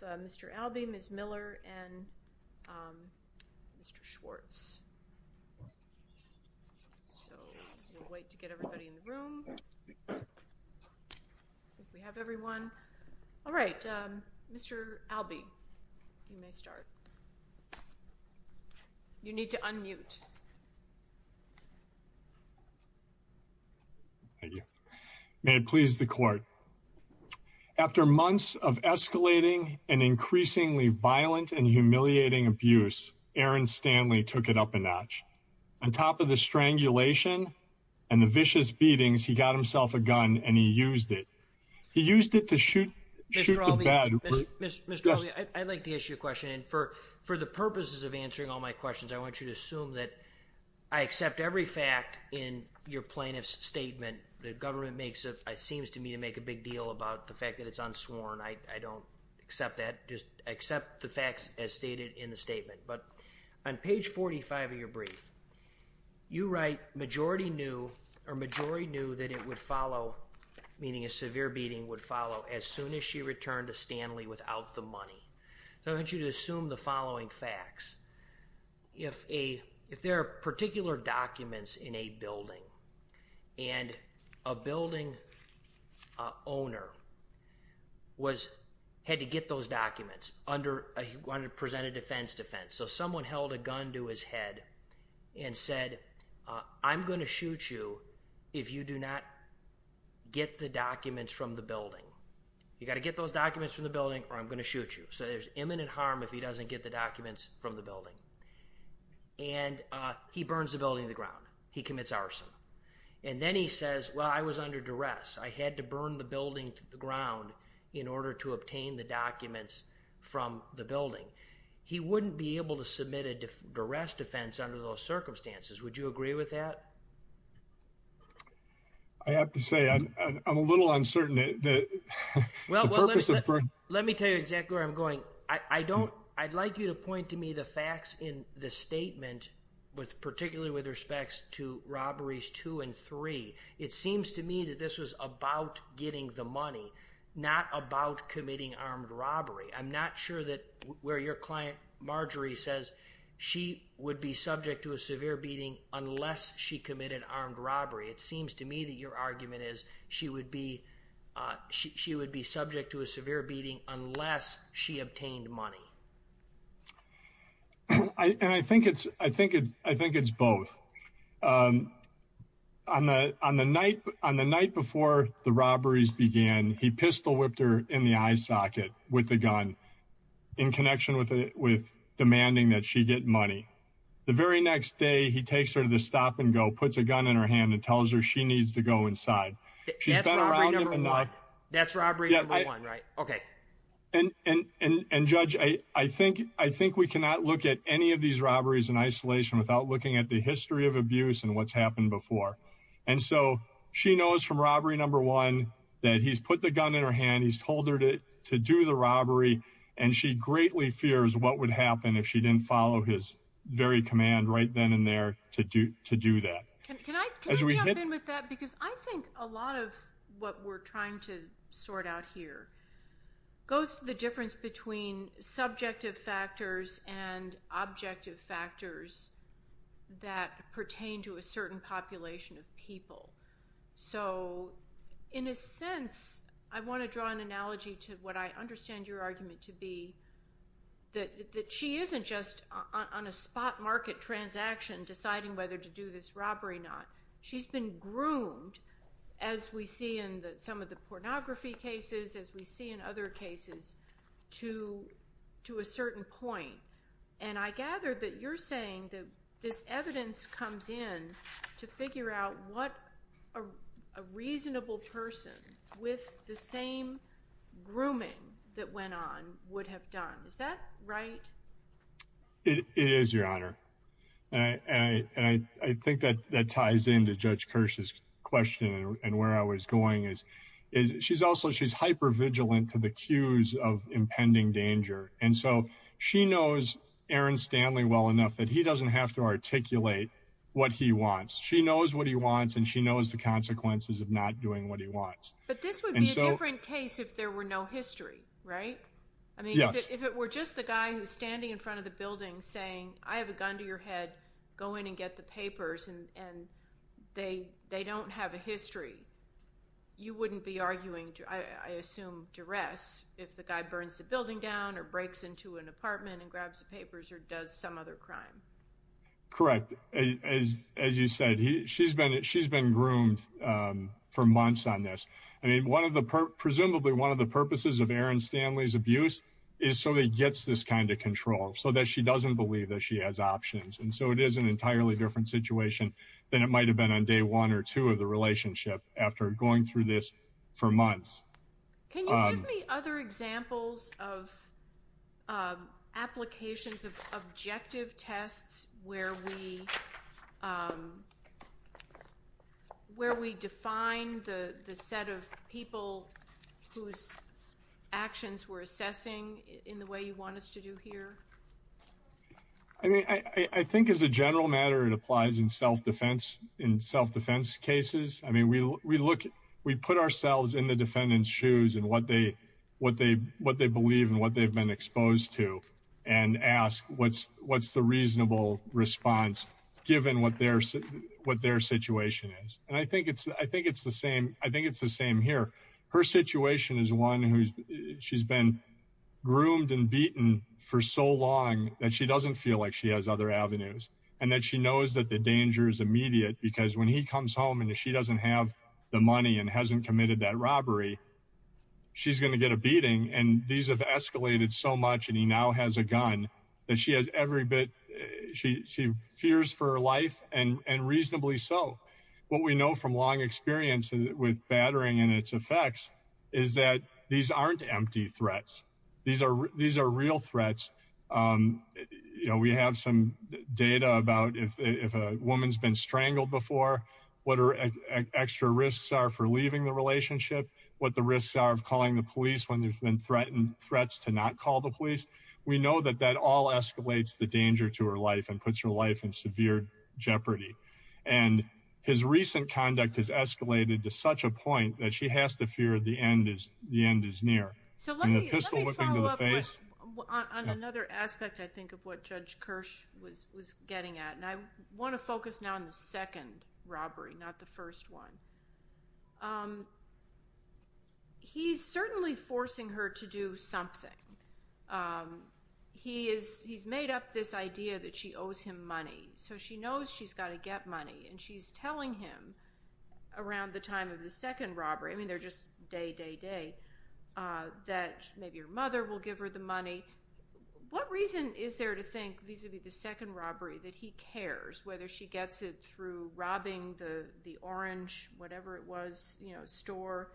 4. Mr. Albee, Ms. Miller, and Mr. Schwartz 5. Mr. Albee, you may start. You need to unmute. Thank you. May it please the court. After months of escalating and increasingly violent and humiliating abuse, Aaron Stanley took it up a notch. On top of the strangulation and the vicious beatings, he got himself a gun and he used it. He used it to shoot the guy. Mr. Albee, I'd like to ask you a question. And for the purposes of answering all my questions, I want you to assume that I accept every fact in your plaintiff's statement. The government makes it, it seems to me, to make a big deal about the fact that it's unsworn. I don't accept that. Just accept the facts as stated in the statement. But on page 45 of your brief, you write, Marjorie knew that it would follow, meaning a severe beating would follow, as soon as she returned to Stanley without the money. So I want you to assume the following facts. If there are particular documents in a building and a building owner had to get those documents under, he wanted to present a defense defense, so someone held a gun to his head and said, I'm going to shoot you if you do not get the documents from the building. You got to get those documents from the building or I'm going to shoot you. So there's imminent harm if he doesn't get the documents from the building. And he burns the building to the ground. He commits arson. And then he says, well, I was under duress. I had to burn the building to the ground in order to obtain the documents from the building. He wouldn't be able to submit a duress defense under those circumstances. Would you agree with that? I have to say, I'm a little uncertain. Let me tell you exactly where I'm going. I don't, I'd like you to point to me the facts in the statement, particularly with respects to robberies two and three. It seems to me that this was about getting the money, not about committing armed robbery. I'm not sure that where your client Marjorie says she would be subject to a severe beating unless she committed armed robbery. It seems to me that your argument is she would be, she would be subject to a severe beating unless she obtained money. And I think it's, I think it's, I think it's both. On the, on the night, on the night before the robberies began, he pistol whipped her in the eye socket with a gun in connection with it, with demanding that she get money. The very next day he takes her to the stop and go, puts a gun in her hand and tells her she needs to go inside. She's been around him enough. That's robbery number one, right? Okay. And judge, I think, I think we cannot look at any of these robberies in isolation without looking at the history of abuse and what's happened before. And so she knows from robbery number one that he's put the gun in her hand. He's told her to do the robbery and she greatly fears what would happen if she didn't follow his very command right then and there to do to do that. Can I, can I jump in with that? Because I think a lot of what we're trying to sort out here goes to the difference between subjective factors and objective factors that pertain to a certain population of people. So in a sense, I want to draw an analogy to what I understand your argument to be, that she isn't just on a spot market transaction deciding whether to do this robbery or not. She's been groomed, as we see in some of the pornography cases, as we see in other cases, to a certain point. And I gather that you're saying that this evidence comes in to figure out what a reasonable person with the same grooming that went on would have done. Is that right? It is, Your Honor. And I, I think that that ties into Judge Kirsch's question and where I was going is, is she's also, she's hyper vigilant to the cues of impending danger. And so she knows Aaron Stanley well enough that he doesn't have to articulate what he wants. She knows what he wants and she knows the consequences of not doing what he wants. But this would be a different case if there were no history, right? Yes. I mean, if it were just the guy who's standing in front of the building saying, I have a gun to your head, go in and get the papers and, and they, they don't have a history, you wouldn't be arguing, I assume, duress if the guy burns the building down or breaks into an apartment and grabs the papers or does some other crime. Correct. As, as you said, he, she's been, she's been groomed for months on this. I mean, one of the, presumably one of the purposes of Aaron Stanley's abuse is so that he gets this kind of control so that she doesn't believe that she has options. And so it is an entirely different situation than it might've been on day one or two of the relationship after going through this for months. Can you give me other examples of applications of objective tests where we, where we define the set of people whose actions we're assessing in the way you want us to do here? I mean, I, I think as a general matter, it applies in self-defense, in self-defense cases. I mean, we, we look, we put ourselves in the defendant's shoes and what they, what they, what they believe and what they've been exposed to and ask what's, what's the reasonable response given what their, what their situation is. And I think it's, I think it's the same. I think it's the same here. Her situation is one who's, she's been groomed and beaten for so long that she doesn't feel like she has other avenues and that she knows that the danger is immediate because when he comes home and she doesn't have the money and hasn't committed that robbery, she's going to get a beating. And these have escalated so much and he now has a gun that she has every bit. She, she fears for her life and, and reasonably so. What we know from long experience with battering and its effects is that these aren't empty threats. These are, these are real threats. You know, we have some data about if a woman's been strangled before, what are extra risks are for leaving the relationship, what the risks are of calling the police when there's been threatened threats to not call the police. We know that that all escalates the danger to her life and puts her life in severe jeopardy. And his recent conduct has escalated to such a point that she has to fear the end is, the pistol whipping to the face. So let me, let me follow up on another aspect I think of what Judge Kirsch was, was getting at. And I want to focus now on the second robbery, not the first one. He's certainly forcing her to do something. He is, he's made up this idea that she owes him money. So she knows she's got to get money. And she's telling him around the time of the second robbery, I mean, they're just day, day, day, that maybe her mother will give her the money. What reason is there to think vis-a-vis the second robbery that he cares, whether she gets it through robbing the, the orange, whatever it was, you know, store,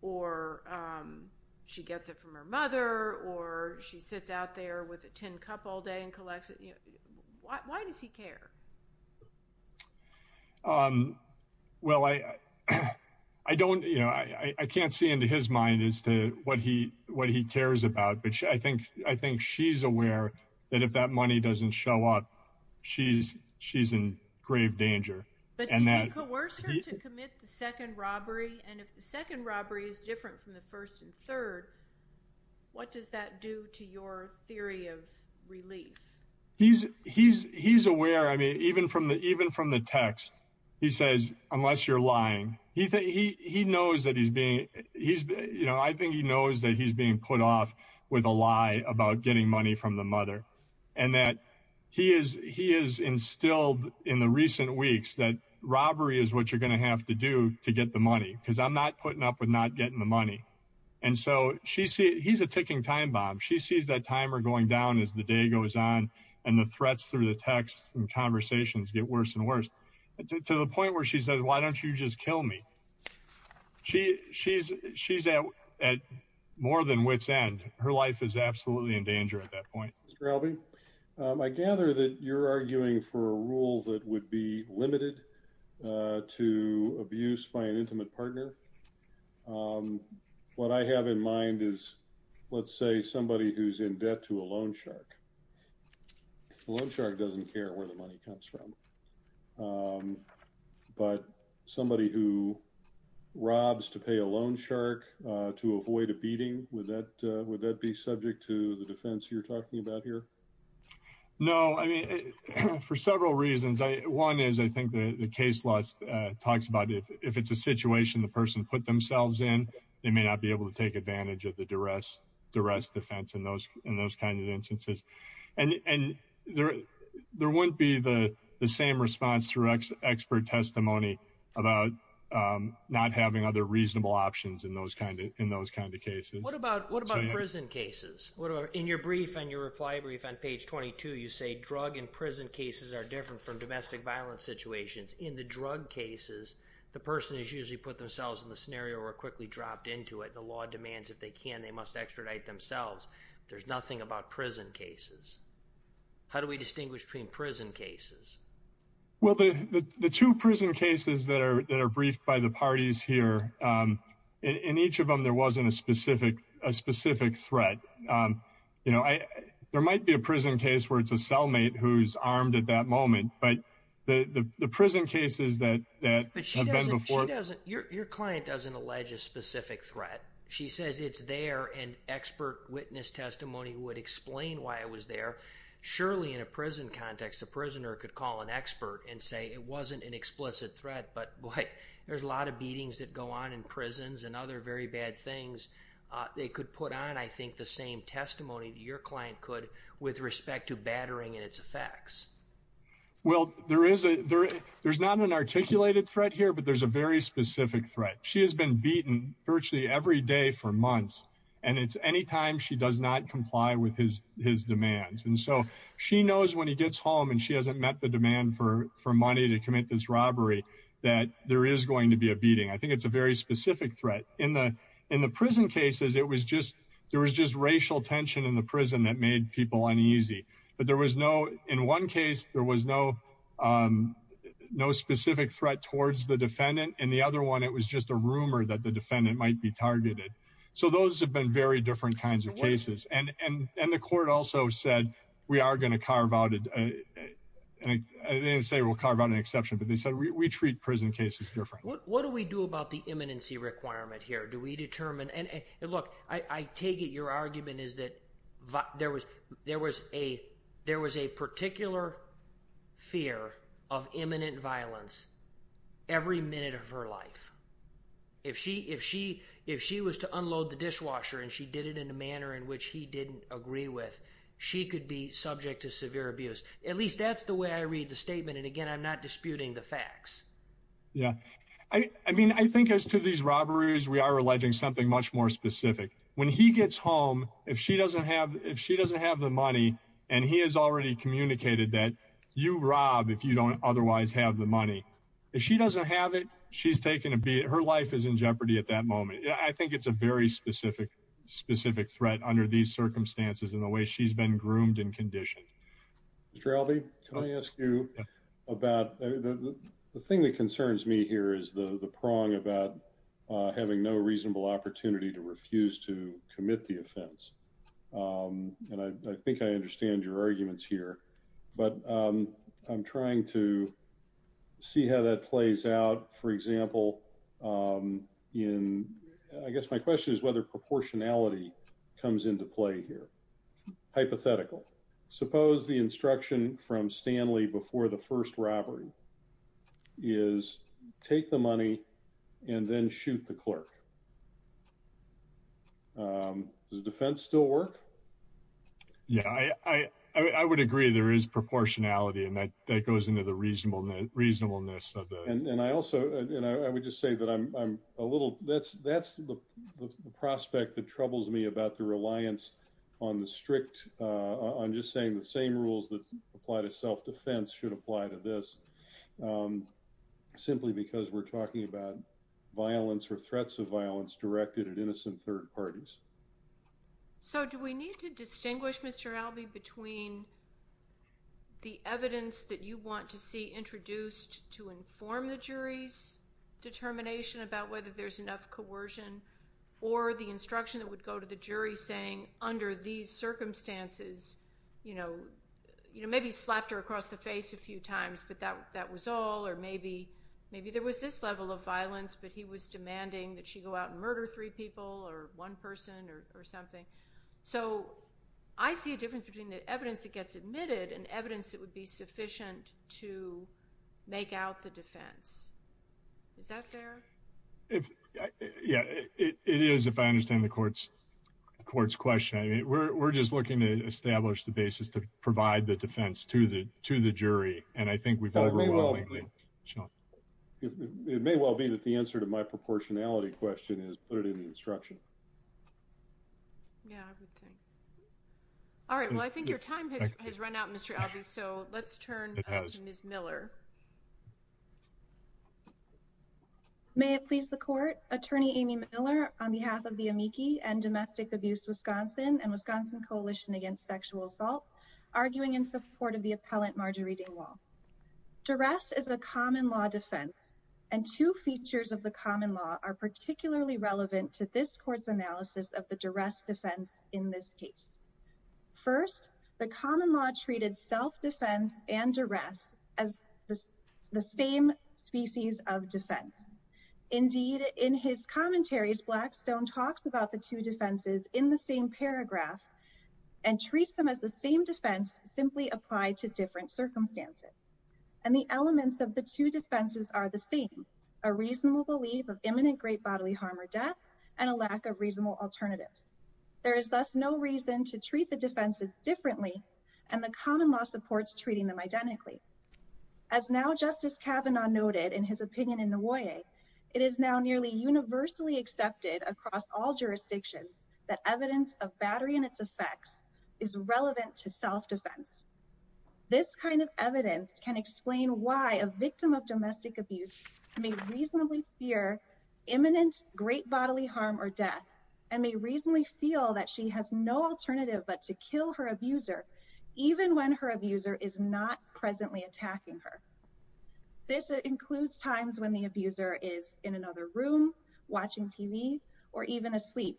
or she gets it from her mother, or she sits out there with a tin cup all day and collects it. Why does he care? Well, I, I don't, you know, I can't see into his mind as to what he, what he cares about. But I think, I think she's aware that if that money doesn't show up, she's, she's in grave danger. But do you coerce her to commit the second robbery? And if the second robbery is different from the first and third, what does that do to your theory of relief? He's, he's, he's aware. I mean, even from the, even from the text, he says, unless you're lying, he, he, he knows that he's being, he's, you know, I think he knows that he's being put off with a lie about getting money from the mother. And that he is, he is instilled in the recent weeks that robbery is what you're going to have to do to get the money, because I'm not putting up with not getting the money. And so she sees, he's a ticking time bomb. She sees that timer going down as the day goes on and the threats through the text and conversations get worse and worse to the point where she says, why don't you just kill me? She, she's, she's at, at more than wit's end. Her life is absolutely in danger at that point. Mr. Albee, I gather that you're arguing for a rule that would be limited to abuse by an a loan shark. A loan shark doesn't care where the money comes from. But somebody who robs to pay a loan shark to avoid a beating with that, would that be subject to the defense you're talking about here? No, I mean, for several reasons. I, one is, I think the case loss talks about if, if it's a situation, the person put themselves in, they may not be able to take advantage of the duress, duress defense in those, in those kinds of instances. And, and there, there wouldn't be the same response through expert testimony about not having other reasonable options in those kinds of, in those kinds of cases. What about, what about prison cases? What are, in your brief and your reply brief on page 22, you say drug and prison cases are different from domestic violence situations. In the drug cases, the person is usually put themselves in the scenario or quickly dropped into it. The law demands if they can, they must extradite themselves. There's nothing about prison cases. How do we distinguish between prison cases? Well, the, the, the two prison cases that are, that are briefed by the parties here, in each of them, there wasn't a specific, a specific threat. You know, I, there might be a prison case where it's a cellmate who's armed at that moment, but the, the, the prison cases that, that have been before. She doesn't, your, your client doesn't allege a specific threat. She says it's there and expert witness testimony would explain why it was there. Surely in a prison context, a prisoner could call an expert and say it wasn't an explicit threat, but boy, there's a lot of beatings that go on in prisons and other very bad things. They could put on, I think the same testimony that your client could with respect to battering and its effects. Well, there is a, there, there's not an articulated threat here, but there's a very specific threat. She has been beaten virtually every day for months and it's anytime she does not comply with his, his demands. And so she knows when he gets home and she hasn't met the demand for, for money to commit this robbery, that there is going to be a beating. I think it's a very specific threat in the, in the prison cases. It was just, there was just racial tension in the prison that made people uneasy, but there was no, in one case there was no, no specific threat towards the defendant and the other one, it was just a rumor that the defendant might be targeted. So those have been very different kinds of cases. And, and, and the court also said, we are going to carve out a, I didn't say we'll carve out an exception, but they said we treat prison cases different. What do we do about the imminency requirement here? Do we determine, and look, I take it your argument is that there was, there was a, there was a particular fear of imminent violence every minute of her life. If she, if she, if she was to unload the dishwasher and she did it in a manner in which he didn't agree with, she could be subject to severe abuse. At least that's the way I read the statement. And again, I'm not disputing the facts. Yeah. I mean, I think as to these robberies, we are alleging something much more specific. When he gets home, if she doesn't have, if she doesn't have the money and he has already communicated that you rob, if you don't otherwise have the money, if she doesn't have it, she's taken a beat. Her life is in jeopardy at that moment. I think it's a very specific, specific threat under these circumstances in the way she's been groomed and conditioned. Mr. Albee, can I ask you about the thing that concerns me here is the, the prong about having no reasonable opportunity to refuse to commit the offense. Um, and I, I think I understand your arguments here, but, um, I'm trying to see how that plays out. For example, um, in, I guess my question is whether proportionality comes into play here. Hypothetical suppose the instruction from Stanley before the first robbery is take the money and then shoot the robber. Um, does the defense still work? Yeah, I, I, I would agree there is proportionality and that that goes into the reasonableness, reasonableness of the, and I also, and I would just say that I'm, I'm a little, that's, that's the prospect that troubles me about the reliance on the strict, uh, on just saying the same rules that apply to self defense should apply to this. Um, simply because we're talking about violence or threats of violence directed at innocent third parties. So do we need to distinguish Mr. Albee between the evidence that you want to see introduced to inform the jury's determination about whether there's enough coercion or the instruction that would go to the jury saying under these circumstances, you know, you know, maybe slapped her across the face a few times, but that, that was all, or maybe, maybe there was this level of violence, but he was demanding that she go out and murder three people or one person or something. So I see a difference between the evidence that gets admitted and evidence that would be sufficient to make out the defense. Is that fair? Yeah, it is. If I understand the courts, the court's question, I mean, we're, we're just looking to establish the basis to provide the defense to the, to the jury. And I think we've got a role. It may well be that the answer to my proportionality question is put it in the instruction. Yeah, I would think. All right. Well, I think your time has run out, Mr. Albee. So let's turn to Ms. Miller. May it please the court, attorney Amy Miller on behalf of the amici and domestic abuse, Wisconsin and Wisconsin coalition against sexual assault, arguing in support of the appellant Marjorie Dingwall. Duress is a common law defense and two features of the common law are particularly relevant to this court's analysis of the duress defense in this case. First, the common law treated self-defense and duress as the same species of defense. Indeed, in his commentaries, Blackstone talks about the two defenses in the same paragraph and treats them as the same defense simply applied to different circumstances. And the elements of the two defenses are the same, a reasonable belief of imminent great alternatives. There is thus no reason to treat the defenses differently, and the common law supports treating them identically. As now, Justice Kavanaugh noted in his opinion in the way it is now nearly universally accepted across all jurisdictions that evidence of battery and its effects is relevant to self-defense. This kind of evidence can explain why a victim of domestic abuse may reasonably fear imminent great bodily harm or death and may reasonably feel that she has no alternative but to kill her abuser, even when her abuser is not presently attacking her. This includes times when the abuser is in another room, watching TV, or even asleep.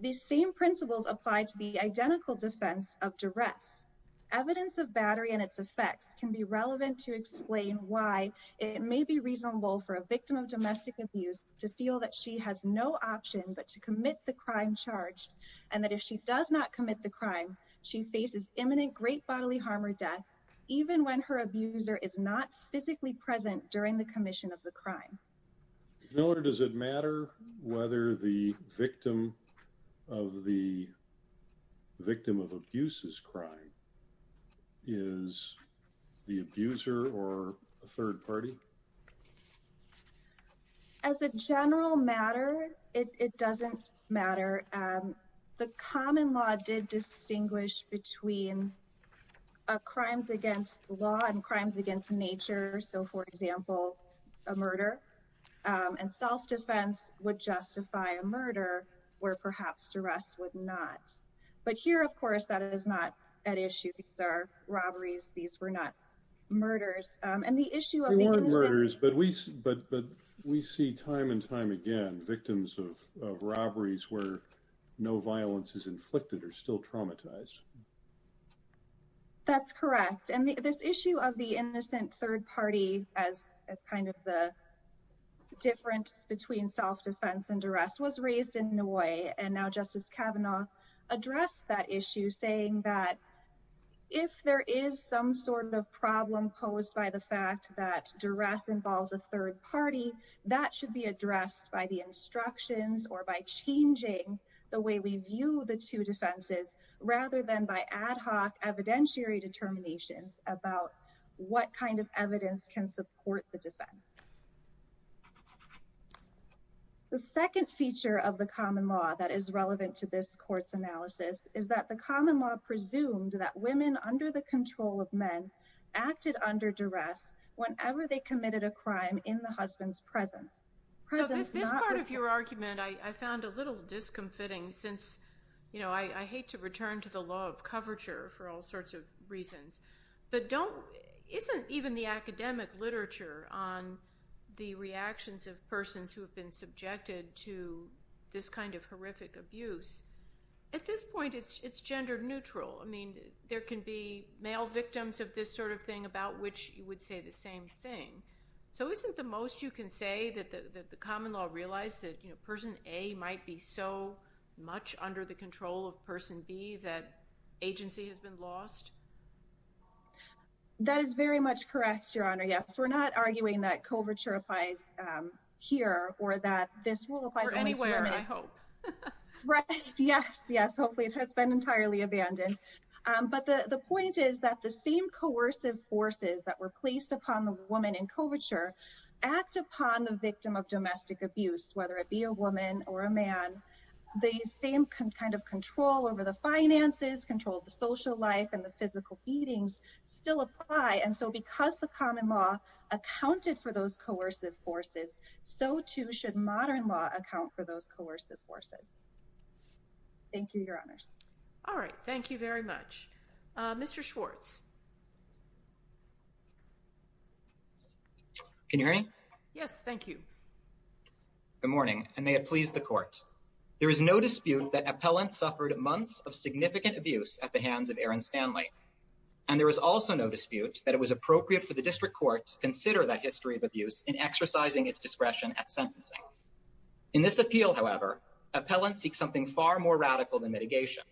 These same principles apply to the identical defense of duress. Evidence of battery and its effects can be relevant to explain why it may be reasonable for a victim of domestic abuse to feel that she has no option but to commit the crime charged and that if she does not commit the crime, she faces imminent great bodily harm or death, even when her abuser is not physically present during the commission of the crime. Does it matter whether the victim of the victim of abuse's crime is the abuser or a third party? As a general matter, it doesn't matter. The common law did distinguish between crimes against law and crimes against nature. For example, a murder. Self-defense would justify a murder where perhaps duress would not. Here, of course, that is not an issue. These are robberies. These were not murders. They weren't murders, but we see time and time again victims of robberies where no violence is inflicted are still traumatized. That's correct. And this issue of the innocent third party as kind of the difference between self-defense and duress was raised in Noy and now Justice Kavanaugh addressed that issue saying that if there is some sort of problem posed by the fact that duress involves a third party, that should be addressed by the instructions or by changing the way we view the two defenses rather than by ad hoc evidentiary determinations about what kind of evidence can support the defense. The second feature of the common law that is relevant to this court's analysis is that the common law presumed that women under the control of men acted under duress whenever they committed a crime in the husband's presence. So this part of your argument I found a little discomfiting since, you know, I hate to return to the law of coverture for all sorts of reasons, but isn't even the academic literature on the reactions of persons who have been subjected to this kind of horrific abuse, at this point it's gender neutral. I mean, there can be male victims of this sort of thing about which you would say the same thing. So isn't the most you can say that the common law realized that, you know, person A might be so much under the control of person B that agency has been lost? That is very much correct, Your Honor. Yes, we're not arguing that coverture applies here or that this will apply to women. Or anywhere, I hope. Right. Yes, yes. Hopefully it has been entirely abandoned. But the point is that the same coercive forces that were placed upon the woman in coverture act upon the victim of domestic abuse, whether it be a woman or a man. The same kind of control over the finances, control of the social life and the physical beatings still apply. And so because the common law accounted for those coercive forces, so too should modern law account for those coercive forces. Thank you, Your Honors. All right. Thank you very much. Mr. Schwartz. Can you hear me? Yes, thank you. Good morning, and may it please the Court. There is no dispute that Appellant suffered months of significant abuse at the hands of Erin Stanley. And there is also no dispute that it was appropriate for the District Court to consider that history of abuse in exercising its discretion at sentencing. In this appeal, however, Appellant seeks something far more radical than mitigation.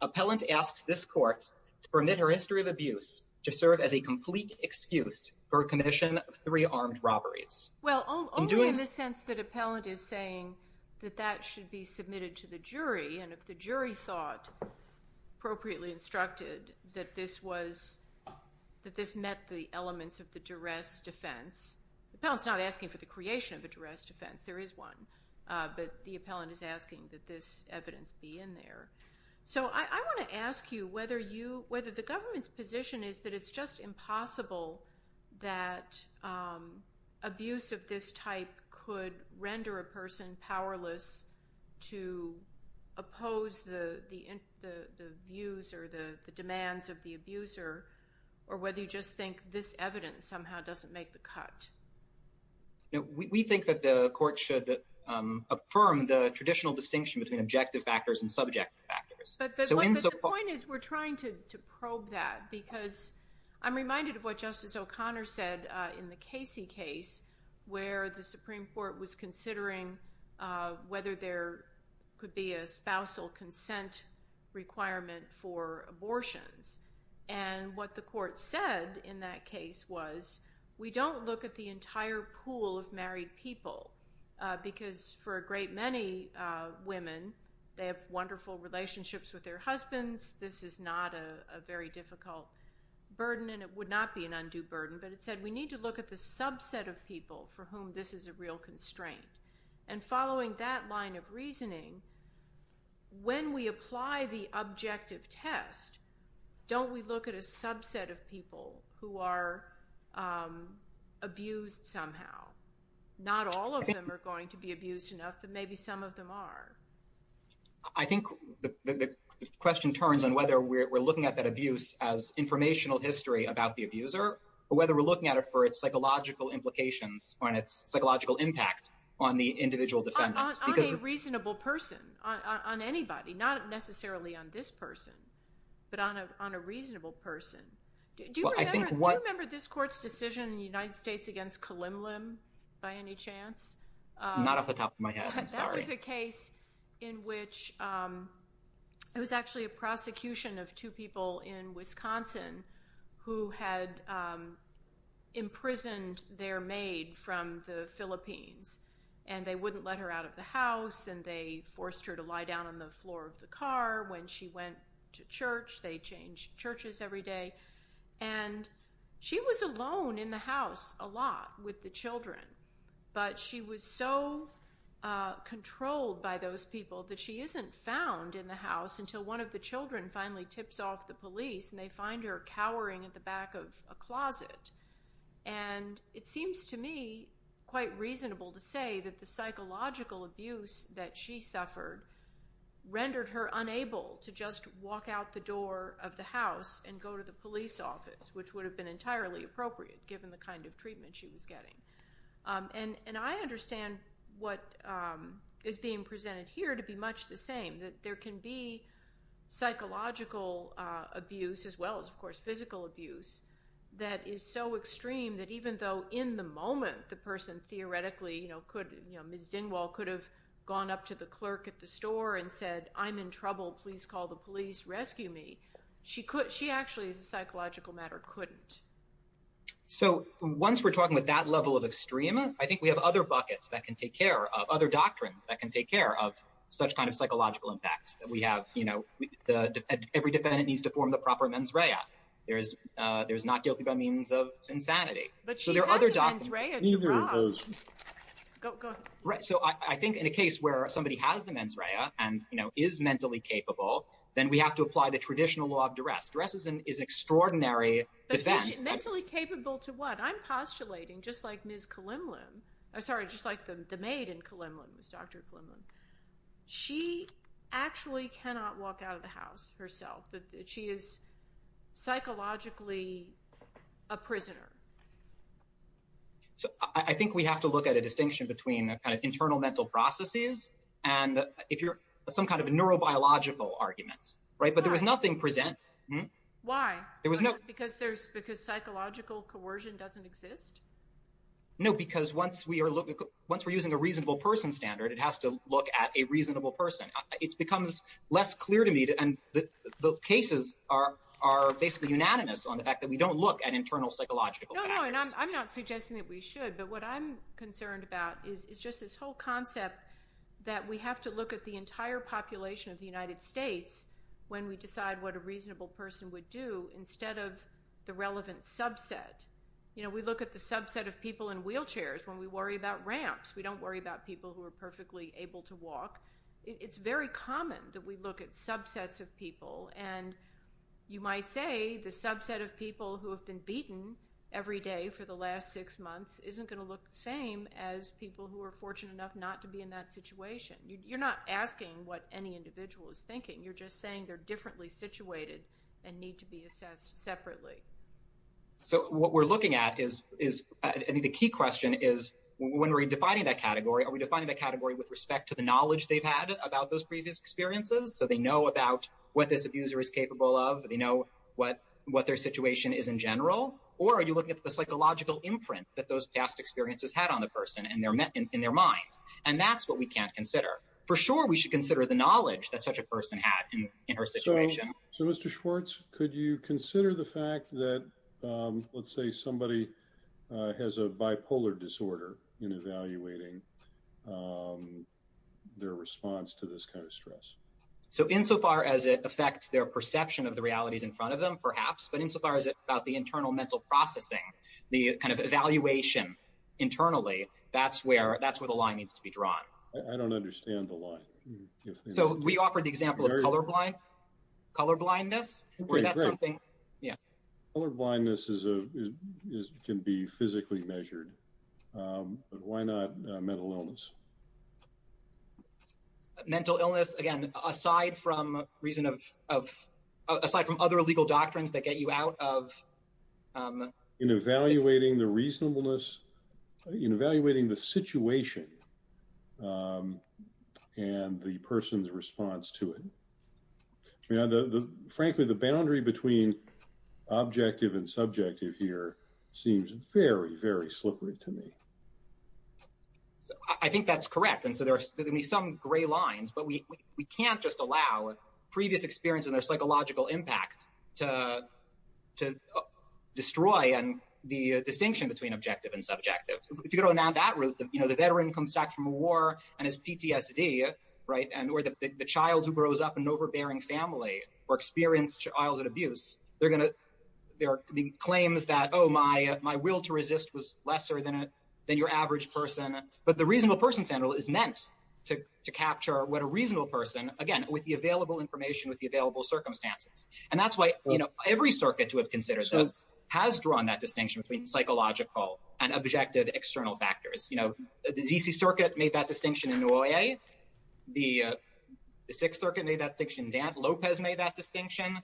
Appellant asks this Court to permit her history of abuse to serve as a complete excuse for a commission of three armed robberies. Well, only in the sense that Appellant is saying that that should be submitted to the jury, and if the jury thought appropriately instructed that this met the elements of the duress defense. Appellant's not asking for the creation of a duress defense. There is one, but the Appellant is asking that this evidence be in there. So I want to ask you whether you, whether the government's position is that it's just impossible that abuse of this type could render a person powerless to oppose the views or the demands of the abuser, or whether you just think this evidence somehow doesn't make the cut. We think that the Court should affirm the traditional distinction between objective factors and subjective factors. But the point is we're trying to probe that, because I'm reminded of what Justice O'Connor said in the Casey case, where the Supreme Court was considering whether there could be a spousal consent requirement for abortions. And what the Court said in that case was, we don't look at the entire pool of married people, because for a great many women, they have wonderful relationships with their husbands. This is not a very difficult burden, and it would not be an undue burden. But it said we need to look at the subset of people for whom this is a real constraint. And following that line of reasoning, when we apply the objective test, don't we look at a subset of people who are abused somehow? Not all of them are going to be abused enough, but maybe some of them are. I think the question turns on whether we're looking at that abuse as informational history about the abuser, or whether we're looking at it for its psychological implications or on its psychological impact on the individual defendant. On a reasonable person, on anybody, not necessarily on this person, but on a reasonable person. Do you remember this Court's decision in the United States against Kalymlym, by any chance? Not off the top of my head, I'm sorry. That was a case in which it was actually a prosecution of two people in Wisconsin who had imprisoned their maid from the Philippines. And they wouldn't let her out of the house, and they forced her to lie down on the floor of the car. When she went to church, they changed churches every day. And she was alone in the house a lot with the children. But she was so controlled by those people that she isn't found in the house until one of the children finally tips off the police, and they find her cowering at the back of a closet. And it seems to me quite reasonable to say that the psychological abuse that she suffered rendered her unable to just walk out the door of the house and go to the police office, which would have been entirely appropriate given the kind of treatment she was getting. And I understand what is being presented here to be much the same. There can be psychological abuse as well as, of course, physical abuse that is so extreme that even though in the moment the person theoretically could, Ms. Dingwall could have gone up to the clerk at the store and said, I'm in trouble. Please call the police. Rescue me. She could. She actually, as a psychological matter, couldn't. So once we're talking with that level of extrema, I think we have other buckets that can take care of, other doctrines that can take care of such kind of psychological impacts that we have. You know, every defendant needs to form the proper mens rea. There's not guilty by means of insanity. But she had the mens rea to drop. Go ahead. Right. So I think in a case where somebody has the mens rea and, you know, is mentally capable, then we have to apply the traditional law of duress. Duress is an extraordinary defense. Mentally capable to what? I'm postulating, just like Ms. Kalimlian, sorry, just like the maid in Kalimlian, Dr. Kalimlian, she actually cannot walk out of the house herself. She is psychologically a prisoner. So I think we have to look at a distinction between a kind of internal mental processes and if you're some kind of a neurobiological arguments, right? But there was nothing present. Why? There was no. Because there's, because psychological coercion doesn't exist? No, because once we are looking, once we're using a reasonable person standard, it has to look at a reasonable person. It becomes less clear to me. standards. I'm not suggesting that we should. But what I'm concerned about is just this whole concept that we have to look at the entire population of the United States when we decide what a reasonable person would do instead of the relevant subset. You know, we look at the subset of people in wheelchairs when we worry about ramps. We don't worry about people who are perfectly able to walk. It's very common that we look at subsets of people. And you might say the subset of people who have been beaten every day for the last six months isn't going to look the same as people who are fortunate enough not to be in that situation. You're not asking what any individual is thinking. You're just saying they're differently situated and need to be assessed separately. So what we're looking at is, I think the key question is when we're defining that category, are we defining that category with respect to the knowledge they've had about those previous experiences? So they know about what this abuser is capable of. They know what their situation is in general. Or are you looking at the psychological imprint that those past experiences had on the person in their mind? And that's what we can't consider. For sure, we should consider the knowledge that such a person had in her situation. So Mr. Schwartz, could you consider the fact that, let's say, somebody has a bipolar disorder in evaluating their response to this kind of stress? So insofar as it affects their perception of the realities in front of them, perhaps, but insofar as it's about the internal mental processing, the kind of evaluation internally, that's where the line needs to be drawn. I don't understand the line. So we offered the example of colorblindness, where that's something. Yeah. Colorblindness can be physically measured, but why not mental illness? Mental illness, again, aside from reason of, aside from other legal doctrines that get you out of- In evaluating the reasonableness, in evaluating the situation and the person's response to it. Frankly, the boundary between objective and subjective here seems very, very slippery to me. So I think that's correct. And so there are going to be some gray lines, but we can't just allow previous experience and their psychological impact to destroy the distinction between objective and subjective. If you go down that route, the veteran comes back from a war and has PTSD, right? And or the child who grows up in an overbearing family or experienced childhood abuse, they're going to, there are claims that, oh, my will to resist was lesser than your average person. But the reasonable person center is meant to capture what a reasonable person, again, with the available information, with the available circumstances. And that's why every circuit to have considered this has drawn that distinction between psychological and objective external factors. You know, the D.C. Circuit made that distinction in Noyer. The Sixth Circuit made that distinction. Dan Lopez made that distinction.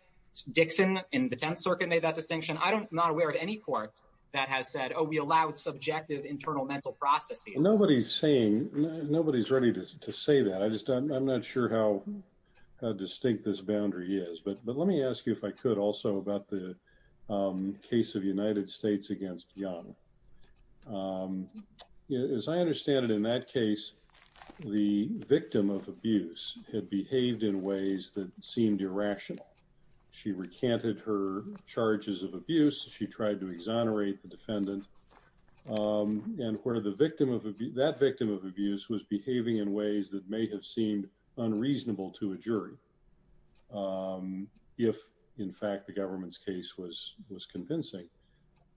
Dixon in the Tenth Circuit made that distinction. I'm not aware of any court that has said, oh, we allowed subjective internal mental processes. Nobody's saying, nobody's ready to say that. I just, I'm not sure how distinct this boundary is. But let me ask you if I could also about the case of United States against Young. As I understand it, in that case, the victim of abuse had behaved in ways that seemed irrational. She recanted her charges of abuse. She tried to exonerate the defendant. And where the victim of that victim of abuse was behaving in ways that may have seemed unreasonable to a jury. If, in fact, the government's case was convincing,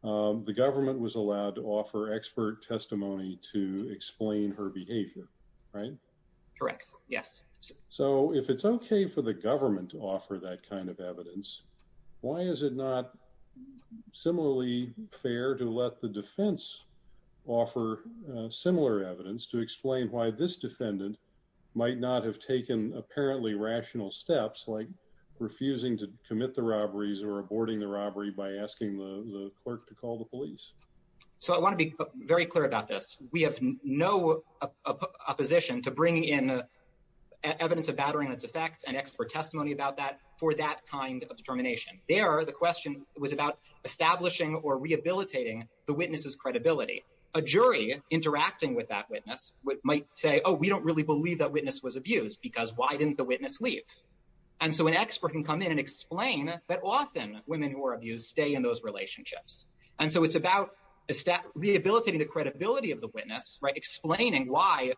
the government was allowed to offer expert testimony to explain her behavior, right? Correct. Yes. So if it's OK for the government to offer that kind of evidence, why is it not similarly fair to let the defense offer similar evidence to explain why this defendant might not have taken apparently rational steps like refusing to commit the robberies or aborting the robbery by asking the clerk to call the police? So I want to be very clear about this. We have no opposition to bringing in evidence of battering and its effects and expert testimony about that for that kind of determination. There, the question was about establishing or rehabilitating the witness's credibility. A jury interacting with that witness might say, oh, we don't really believe that witness was abused because why didn't the witness leave? And so an expert can come in and explain that often women who are abused stay in those relationships. And so it's about rehabilitating the credibility of the witness, right? Explaining why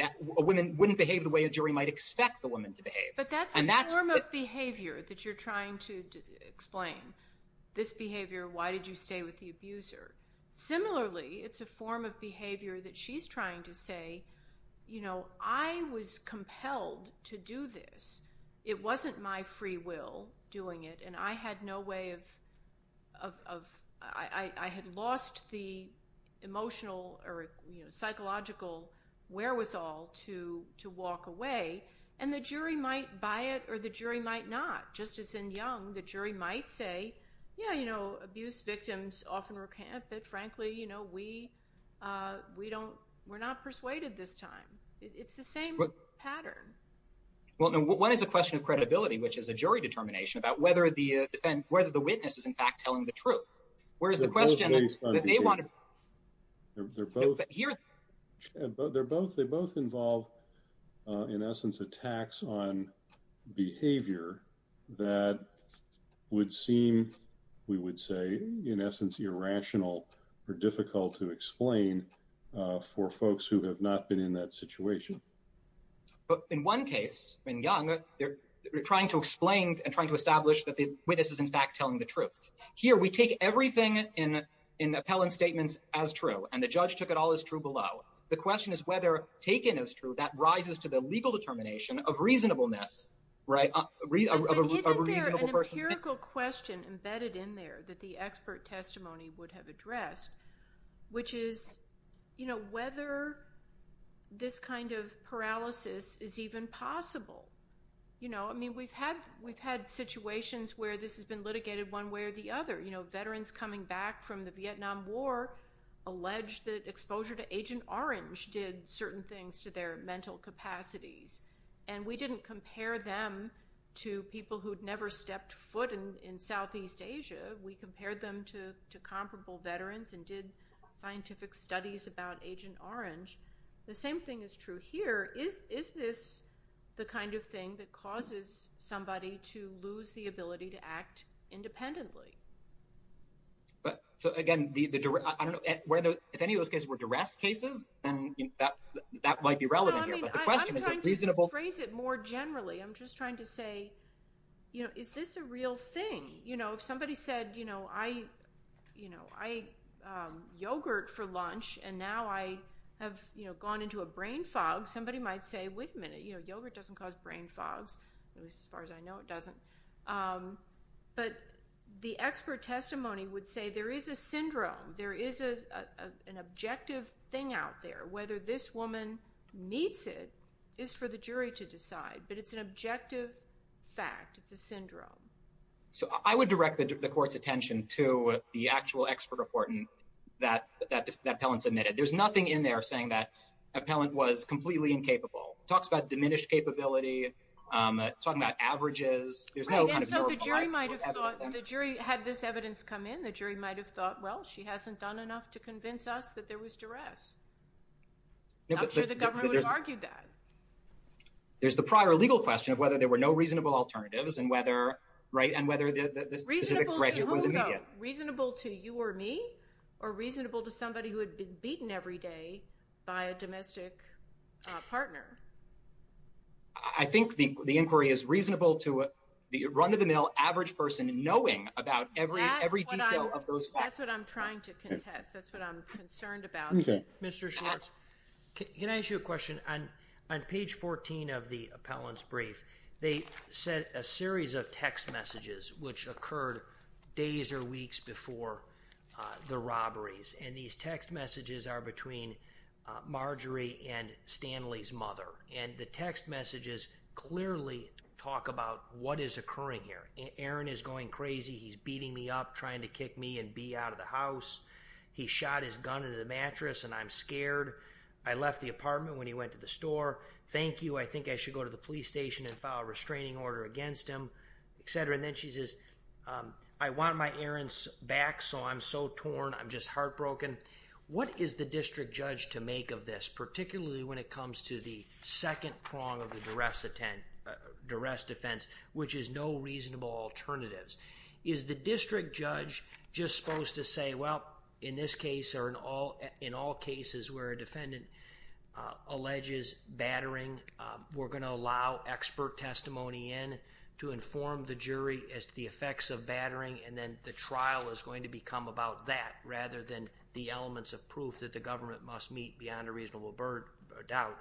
a woman wouldn't behave the way a jury might expect the woman to behave. But that's a form of behavior that you're trying to explain. This behavior, why did you stay with the abuser? Similarly, it's a form of behavior that she's trying to say, you know, I was compelled to do this. It wasn't my free will doing it. And I had no way of, I had lost the emotional or psychological wherewithal to walk away. And the jury might buy it or the jury might not. Just as in Young, the jury might say, yeah, you know, abuse victims often recant. But frankly, you know, we don't, we're not persuaded this time. It's the same pattern. Well, no, what is the question of credibility, which is a jury determination about whether the defense, whether the witness is in fact telling the truth, whereas the question that they want to. They're both here, but they're both, they both involve, in essence, attacks on behavior that would seem, we would say, in essence, irrational or difficult to explain for folks who have not been in that situation. But in one case, in Young, they're trying to explain and trying to establish that the witness is in fact telling the truth. Here, we take everything in appellant statements as true, and the judge took it all as true below. The question is whether taken as true, that rises to the legal determination of reasonableness, right? Isn't there an empirical question embedded in there that the expert testimony would have paralysis is even possible? You know, I mean, we've had situations where this has been litigated one way or the other. You know, veterans coming back from the Vietnam War allege that exposure to Agent Orange did certain things to their mental capacities, and we didn't compare them to people who'd never stepped foot in Southeast Asia. We compared them to comparable veterans and did scientific studies about Agent Orange. The same thing is true here. Is this the kind of thing that causes somebody to lose the ability to act independently? So again, I don't know if any of those cases were duress cases, and that might be relevant here, but the question is reasonable. I'm trying to phrase it more generally. I'm just trying to say, you know, is this a real thing? You know, if somebody said, you know, I ate yogurt for lunch, and now I have, you know, gone into a brain fog, somebody might say, wait a minute. You know, yogurt doesn't cause brain fogs, at least as far as I know it doesn't. But the expert testimony would say there is a syndrome. There is an objective thing out there. Whether this woman meets it is for the jury to decide, but it's an objective fact. It's a syndrome. So I would direct the court's attention to the actual expert report that Appellant submitted. There's nothing in there saying that Appellant was completely incapable. It talks about diminished capability, talking about averages. There's no kind of verbal evidence. Right, and so the jury might have thought, the jury had this evidence come in, the jury might have thought, well, she hasn't done enough to convince us that there was duress. I'm sure the government would have argued that. There's the prior legal question of whether there were no reasonable alternatives and whether the specific threat was immediate. Reasonable to whom, though? Reasonable to you or me? Or reasonable to somebody who had been beaten every day by a domestic partner? I think the inquiry is reasonable to the run-of-the-mill average person knowing about every detail of those facts. That's what I'm trying to contest. That's what I'm concerned about. Mr. Schwartz, can I ask you a question? On page 14 of the Appellant's brief, they sent a series of text messages which occurred days or weeks before the robberies. And these text messages are between Marjorie and Stanley's mother. And the text messages clearly talk about what is occurring here. Aaron is going crazy. He's beating me up, trying to kick me and Bea out of the house. He shot his gun into the mattress, and I'm scared. I left the apartment when he went to the store. Thank you. I think I should go to the police station and file a restraining order against him, et cetera. And then she says, I want my Aaron's back, so I'm so torn. I'm just heartbroken. What is the district judge to make of this, particularly when it comes to the second prong of the duress defense, which is no reasonable alternatives? Is the district judge just supposed to say, well, in this case or in all cases where a defendant alleges battering, we're going to allow expert testimony in to inform the jury as to the effects of battering. And then the trial is going to become about that rather than the elements of proof that the government must meet beyond a reasonable doubt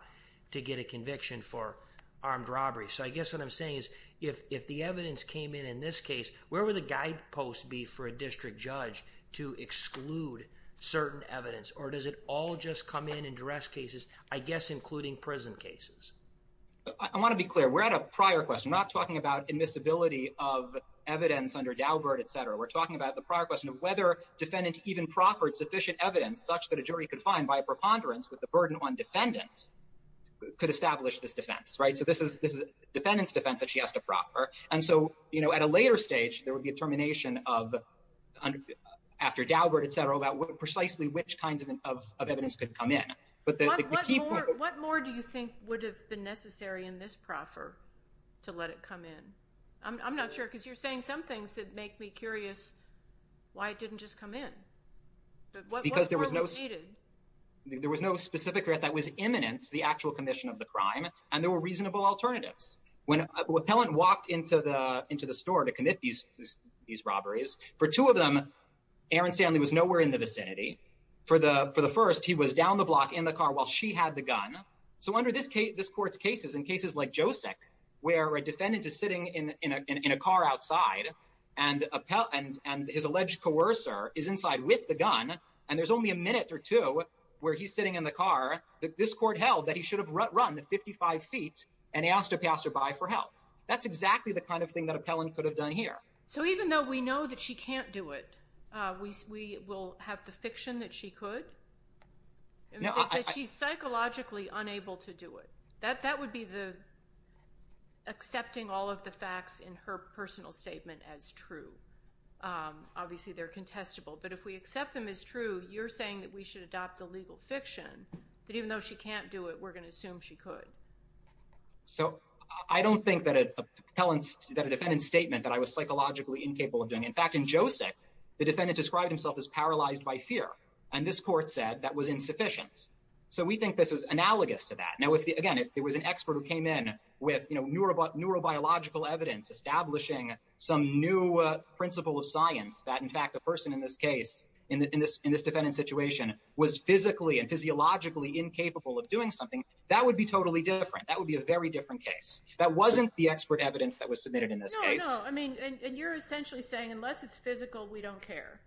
to get a conviction for armed robbery. So I guess what I'm saying is, if the evidence came in in this case, where would the guide be for a district judge to exclude certain evidence? Or does it all just come in in duress cases, I guess, including prison cases? I want to be clear. We're at a prior question, not talking about admissibility of evidence under Daubert, et cetera. We're talking about the prior question of whether defendants even proffered sufficient evidence such that a jury could find by a preponderance with the burden on defendants could establish this defense, right? So this is a defendant's defense that she has to proffer. And so at a later stage, there would be a termination of after Daubert, et cetera, about precisely which kinds of evidence could come in. What more do you think would have been necessary in this proffer to let it come in? I'm not sure, because you're saying some things that make me curious why it didn't just come in. There was no specific threat that was imminent to the actual commission of the crime, and there were reasonable alternatives. When an appellant walked into the store to commit these robberies, for two of them, Aaron Stanley was nowhere in the vicinity. For the first, he was down the block in the car while she had the gun. So under this court's cases, in cases like Josek, where a defendant is sitting in a car outside, and his alleged coercer is inside with the gun, and there's only a minute or two where he's sitting in the car, this court held that he should have run 55 feet, and asked a passerby for help. That's exactly the kind of thing that appellant could have done here. So even though we know that she can't do it, we will have the fiction that she could? That she's psychologically unable to do it. That would be the accepting all of the facts in her personal statement as true. Obviously, they're contestable, but if we accept them as true, you're saying that we should adopt the legal fiction, that even though she can't do it, we're going to assume she could. So I don't think that a defendant's statement that I was psychologically incapable of doing. In fact, in Josek, the defendant described himself as paralyzed by fear, and this court said that was insufficient. So we think this is analogous to that. Now, again, if there was an expert who came in with neurobiological evidence establishing some new principle of science, that in fact, the person in this case, in this defendant's situation, was physically and physiologically incapable of doing something, that would be totally different. That would be a very different case. That wasn't the expert evidence that was submitted in this case. No, no, I mean, and you're essentially saying, unless it's physical, we don't care.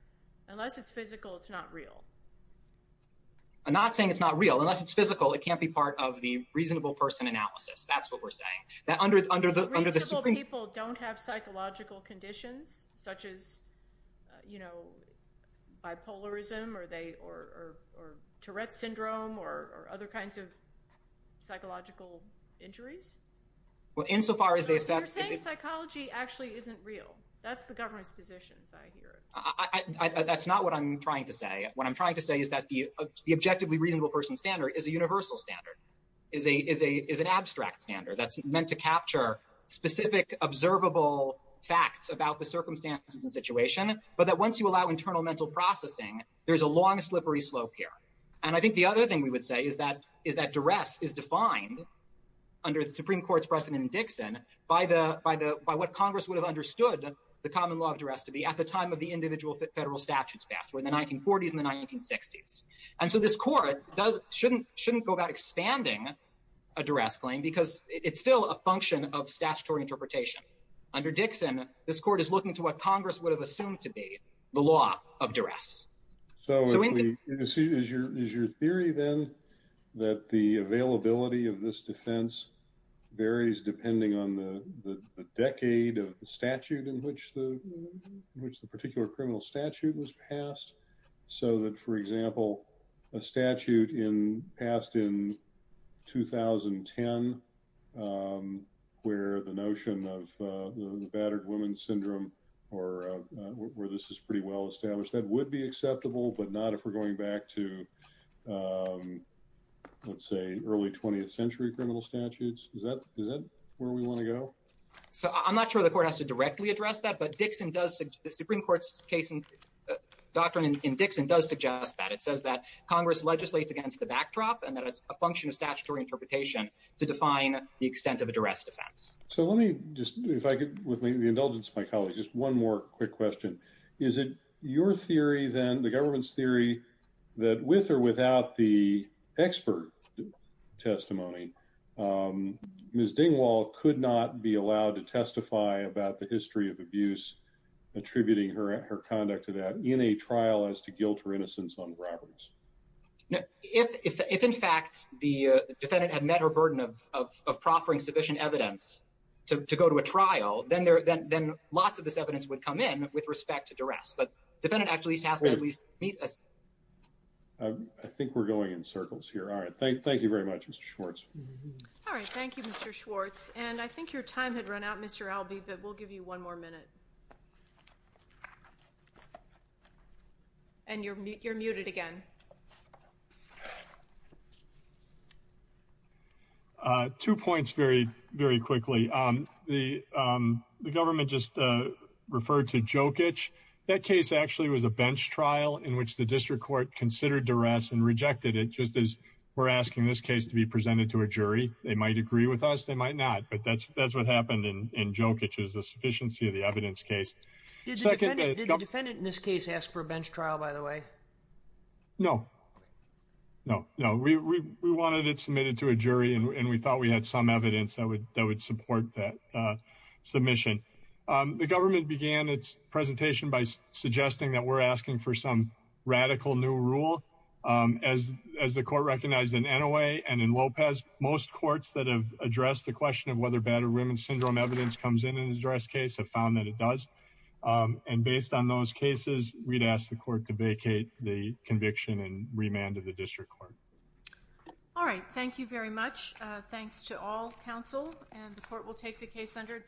Unless it's physical, it's not real. I'm not saying it's not real. Unless it's physical, it can't be part of the reasonable person analysis. That's what we're saying. That under the- Reasonable people don't have psychological conditions, such as, you know, bipolarism, or Tourette syndrome, or other kinds of psychological injuries. Well, insofar as the effect- You're saying psychology actually isn't real. That's the governor's position, as I hear it. That's not what I'm trying to say. What I'm trying to say is that the objectively reasonable person standard is a universal standard, is an abstract standard that's meant to capture specific, observable facts about the circumstances and situation, but that once you allow internal mental processing, there's a long, slippery slope here. And I think the other thing we would say is that is that duress is defined under the Supreme Court's precedent in Dixon by what Congress would have understood the common law of duress to be at the time of the individual federal statutes passed, or in the 1940s and the 1960s. And so this court shouldn't go about expanding a duress claim because it's still a function of statutory interpretation. Under Dixon, this court is looking to what Congress would have assumed to be the law of duress. So is your theory then that the availability of this defense varies depending on the decade of the statute in which the particular criminal statute was passed? So that, for example, a statute passed in 2010, where the notion of the battered woman syndrome, or where this is pretty well established, that would be acceptable, but not if we're going back to, let's say, early 20th century criminal statutes. Is that where we want to go? So I'm not sure the court has to directly address that, but the Supreme Court's doctrine in Dixon does suggest that. It says that Congress legislates against the backdrop and that it's a function of statutory interpretation to define the extent of a duress defense. So let me just, if I could, with the indulgence of my colleagues, just one more quick question. Is it your theory then, the government's theory, that with or without the expert testimony, Ms. Dingwall could not be allowed to testify about the history of abuse attributing her conduct to that in a trial as to guilt or innocence on robberies? No, if in fact the defendant had met her burden of proffering sufficient evidence to go to a trial, then lots of this evidence would come in with respect to duress. But defendant actually has to at least meet a... I think we're going in circles here. All right. Thank you very much, Mr. Schwartz. All right. Thank you, Mr. Schwartz. And I think your time had run out, Mr. Albee, but we'll give you one more minute. And you're muted again. Two points very, very quickly. The government just referred to Jokic. That case actually was a bench trial in which the district court considered duress and rejected it just as we're asking this case to be presented to a jury. They might agree with us, they might not. But that's what happened in Jokic is the sufficiency of the evidence case. Did the defendant in this case ask for a bench trial, by the way? No, no, no. We wanted it submitted to a jury and we thought we had some evidence that would support that submission. The government began its presentation by suggesting that we're asking for some radical new rule. As the court recognized in Inouye and in Lopez, most courts that have addressed the question of whether battered women syndrome evidence comes in in a duress case have found that it does. And based on those cases, we'd ask the court to vacate the conviction and remand to the district court. All right. Thank you very much. Thanks to all counsel. And the court will take the case under.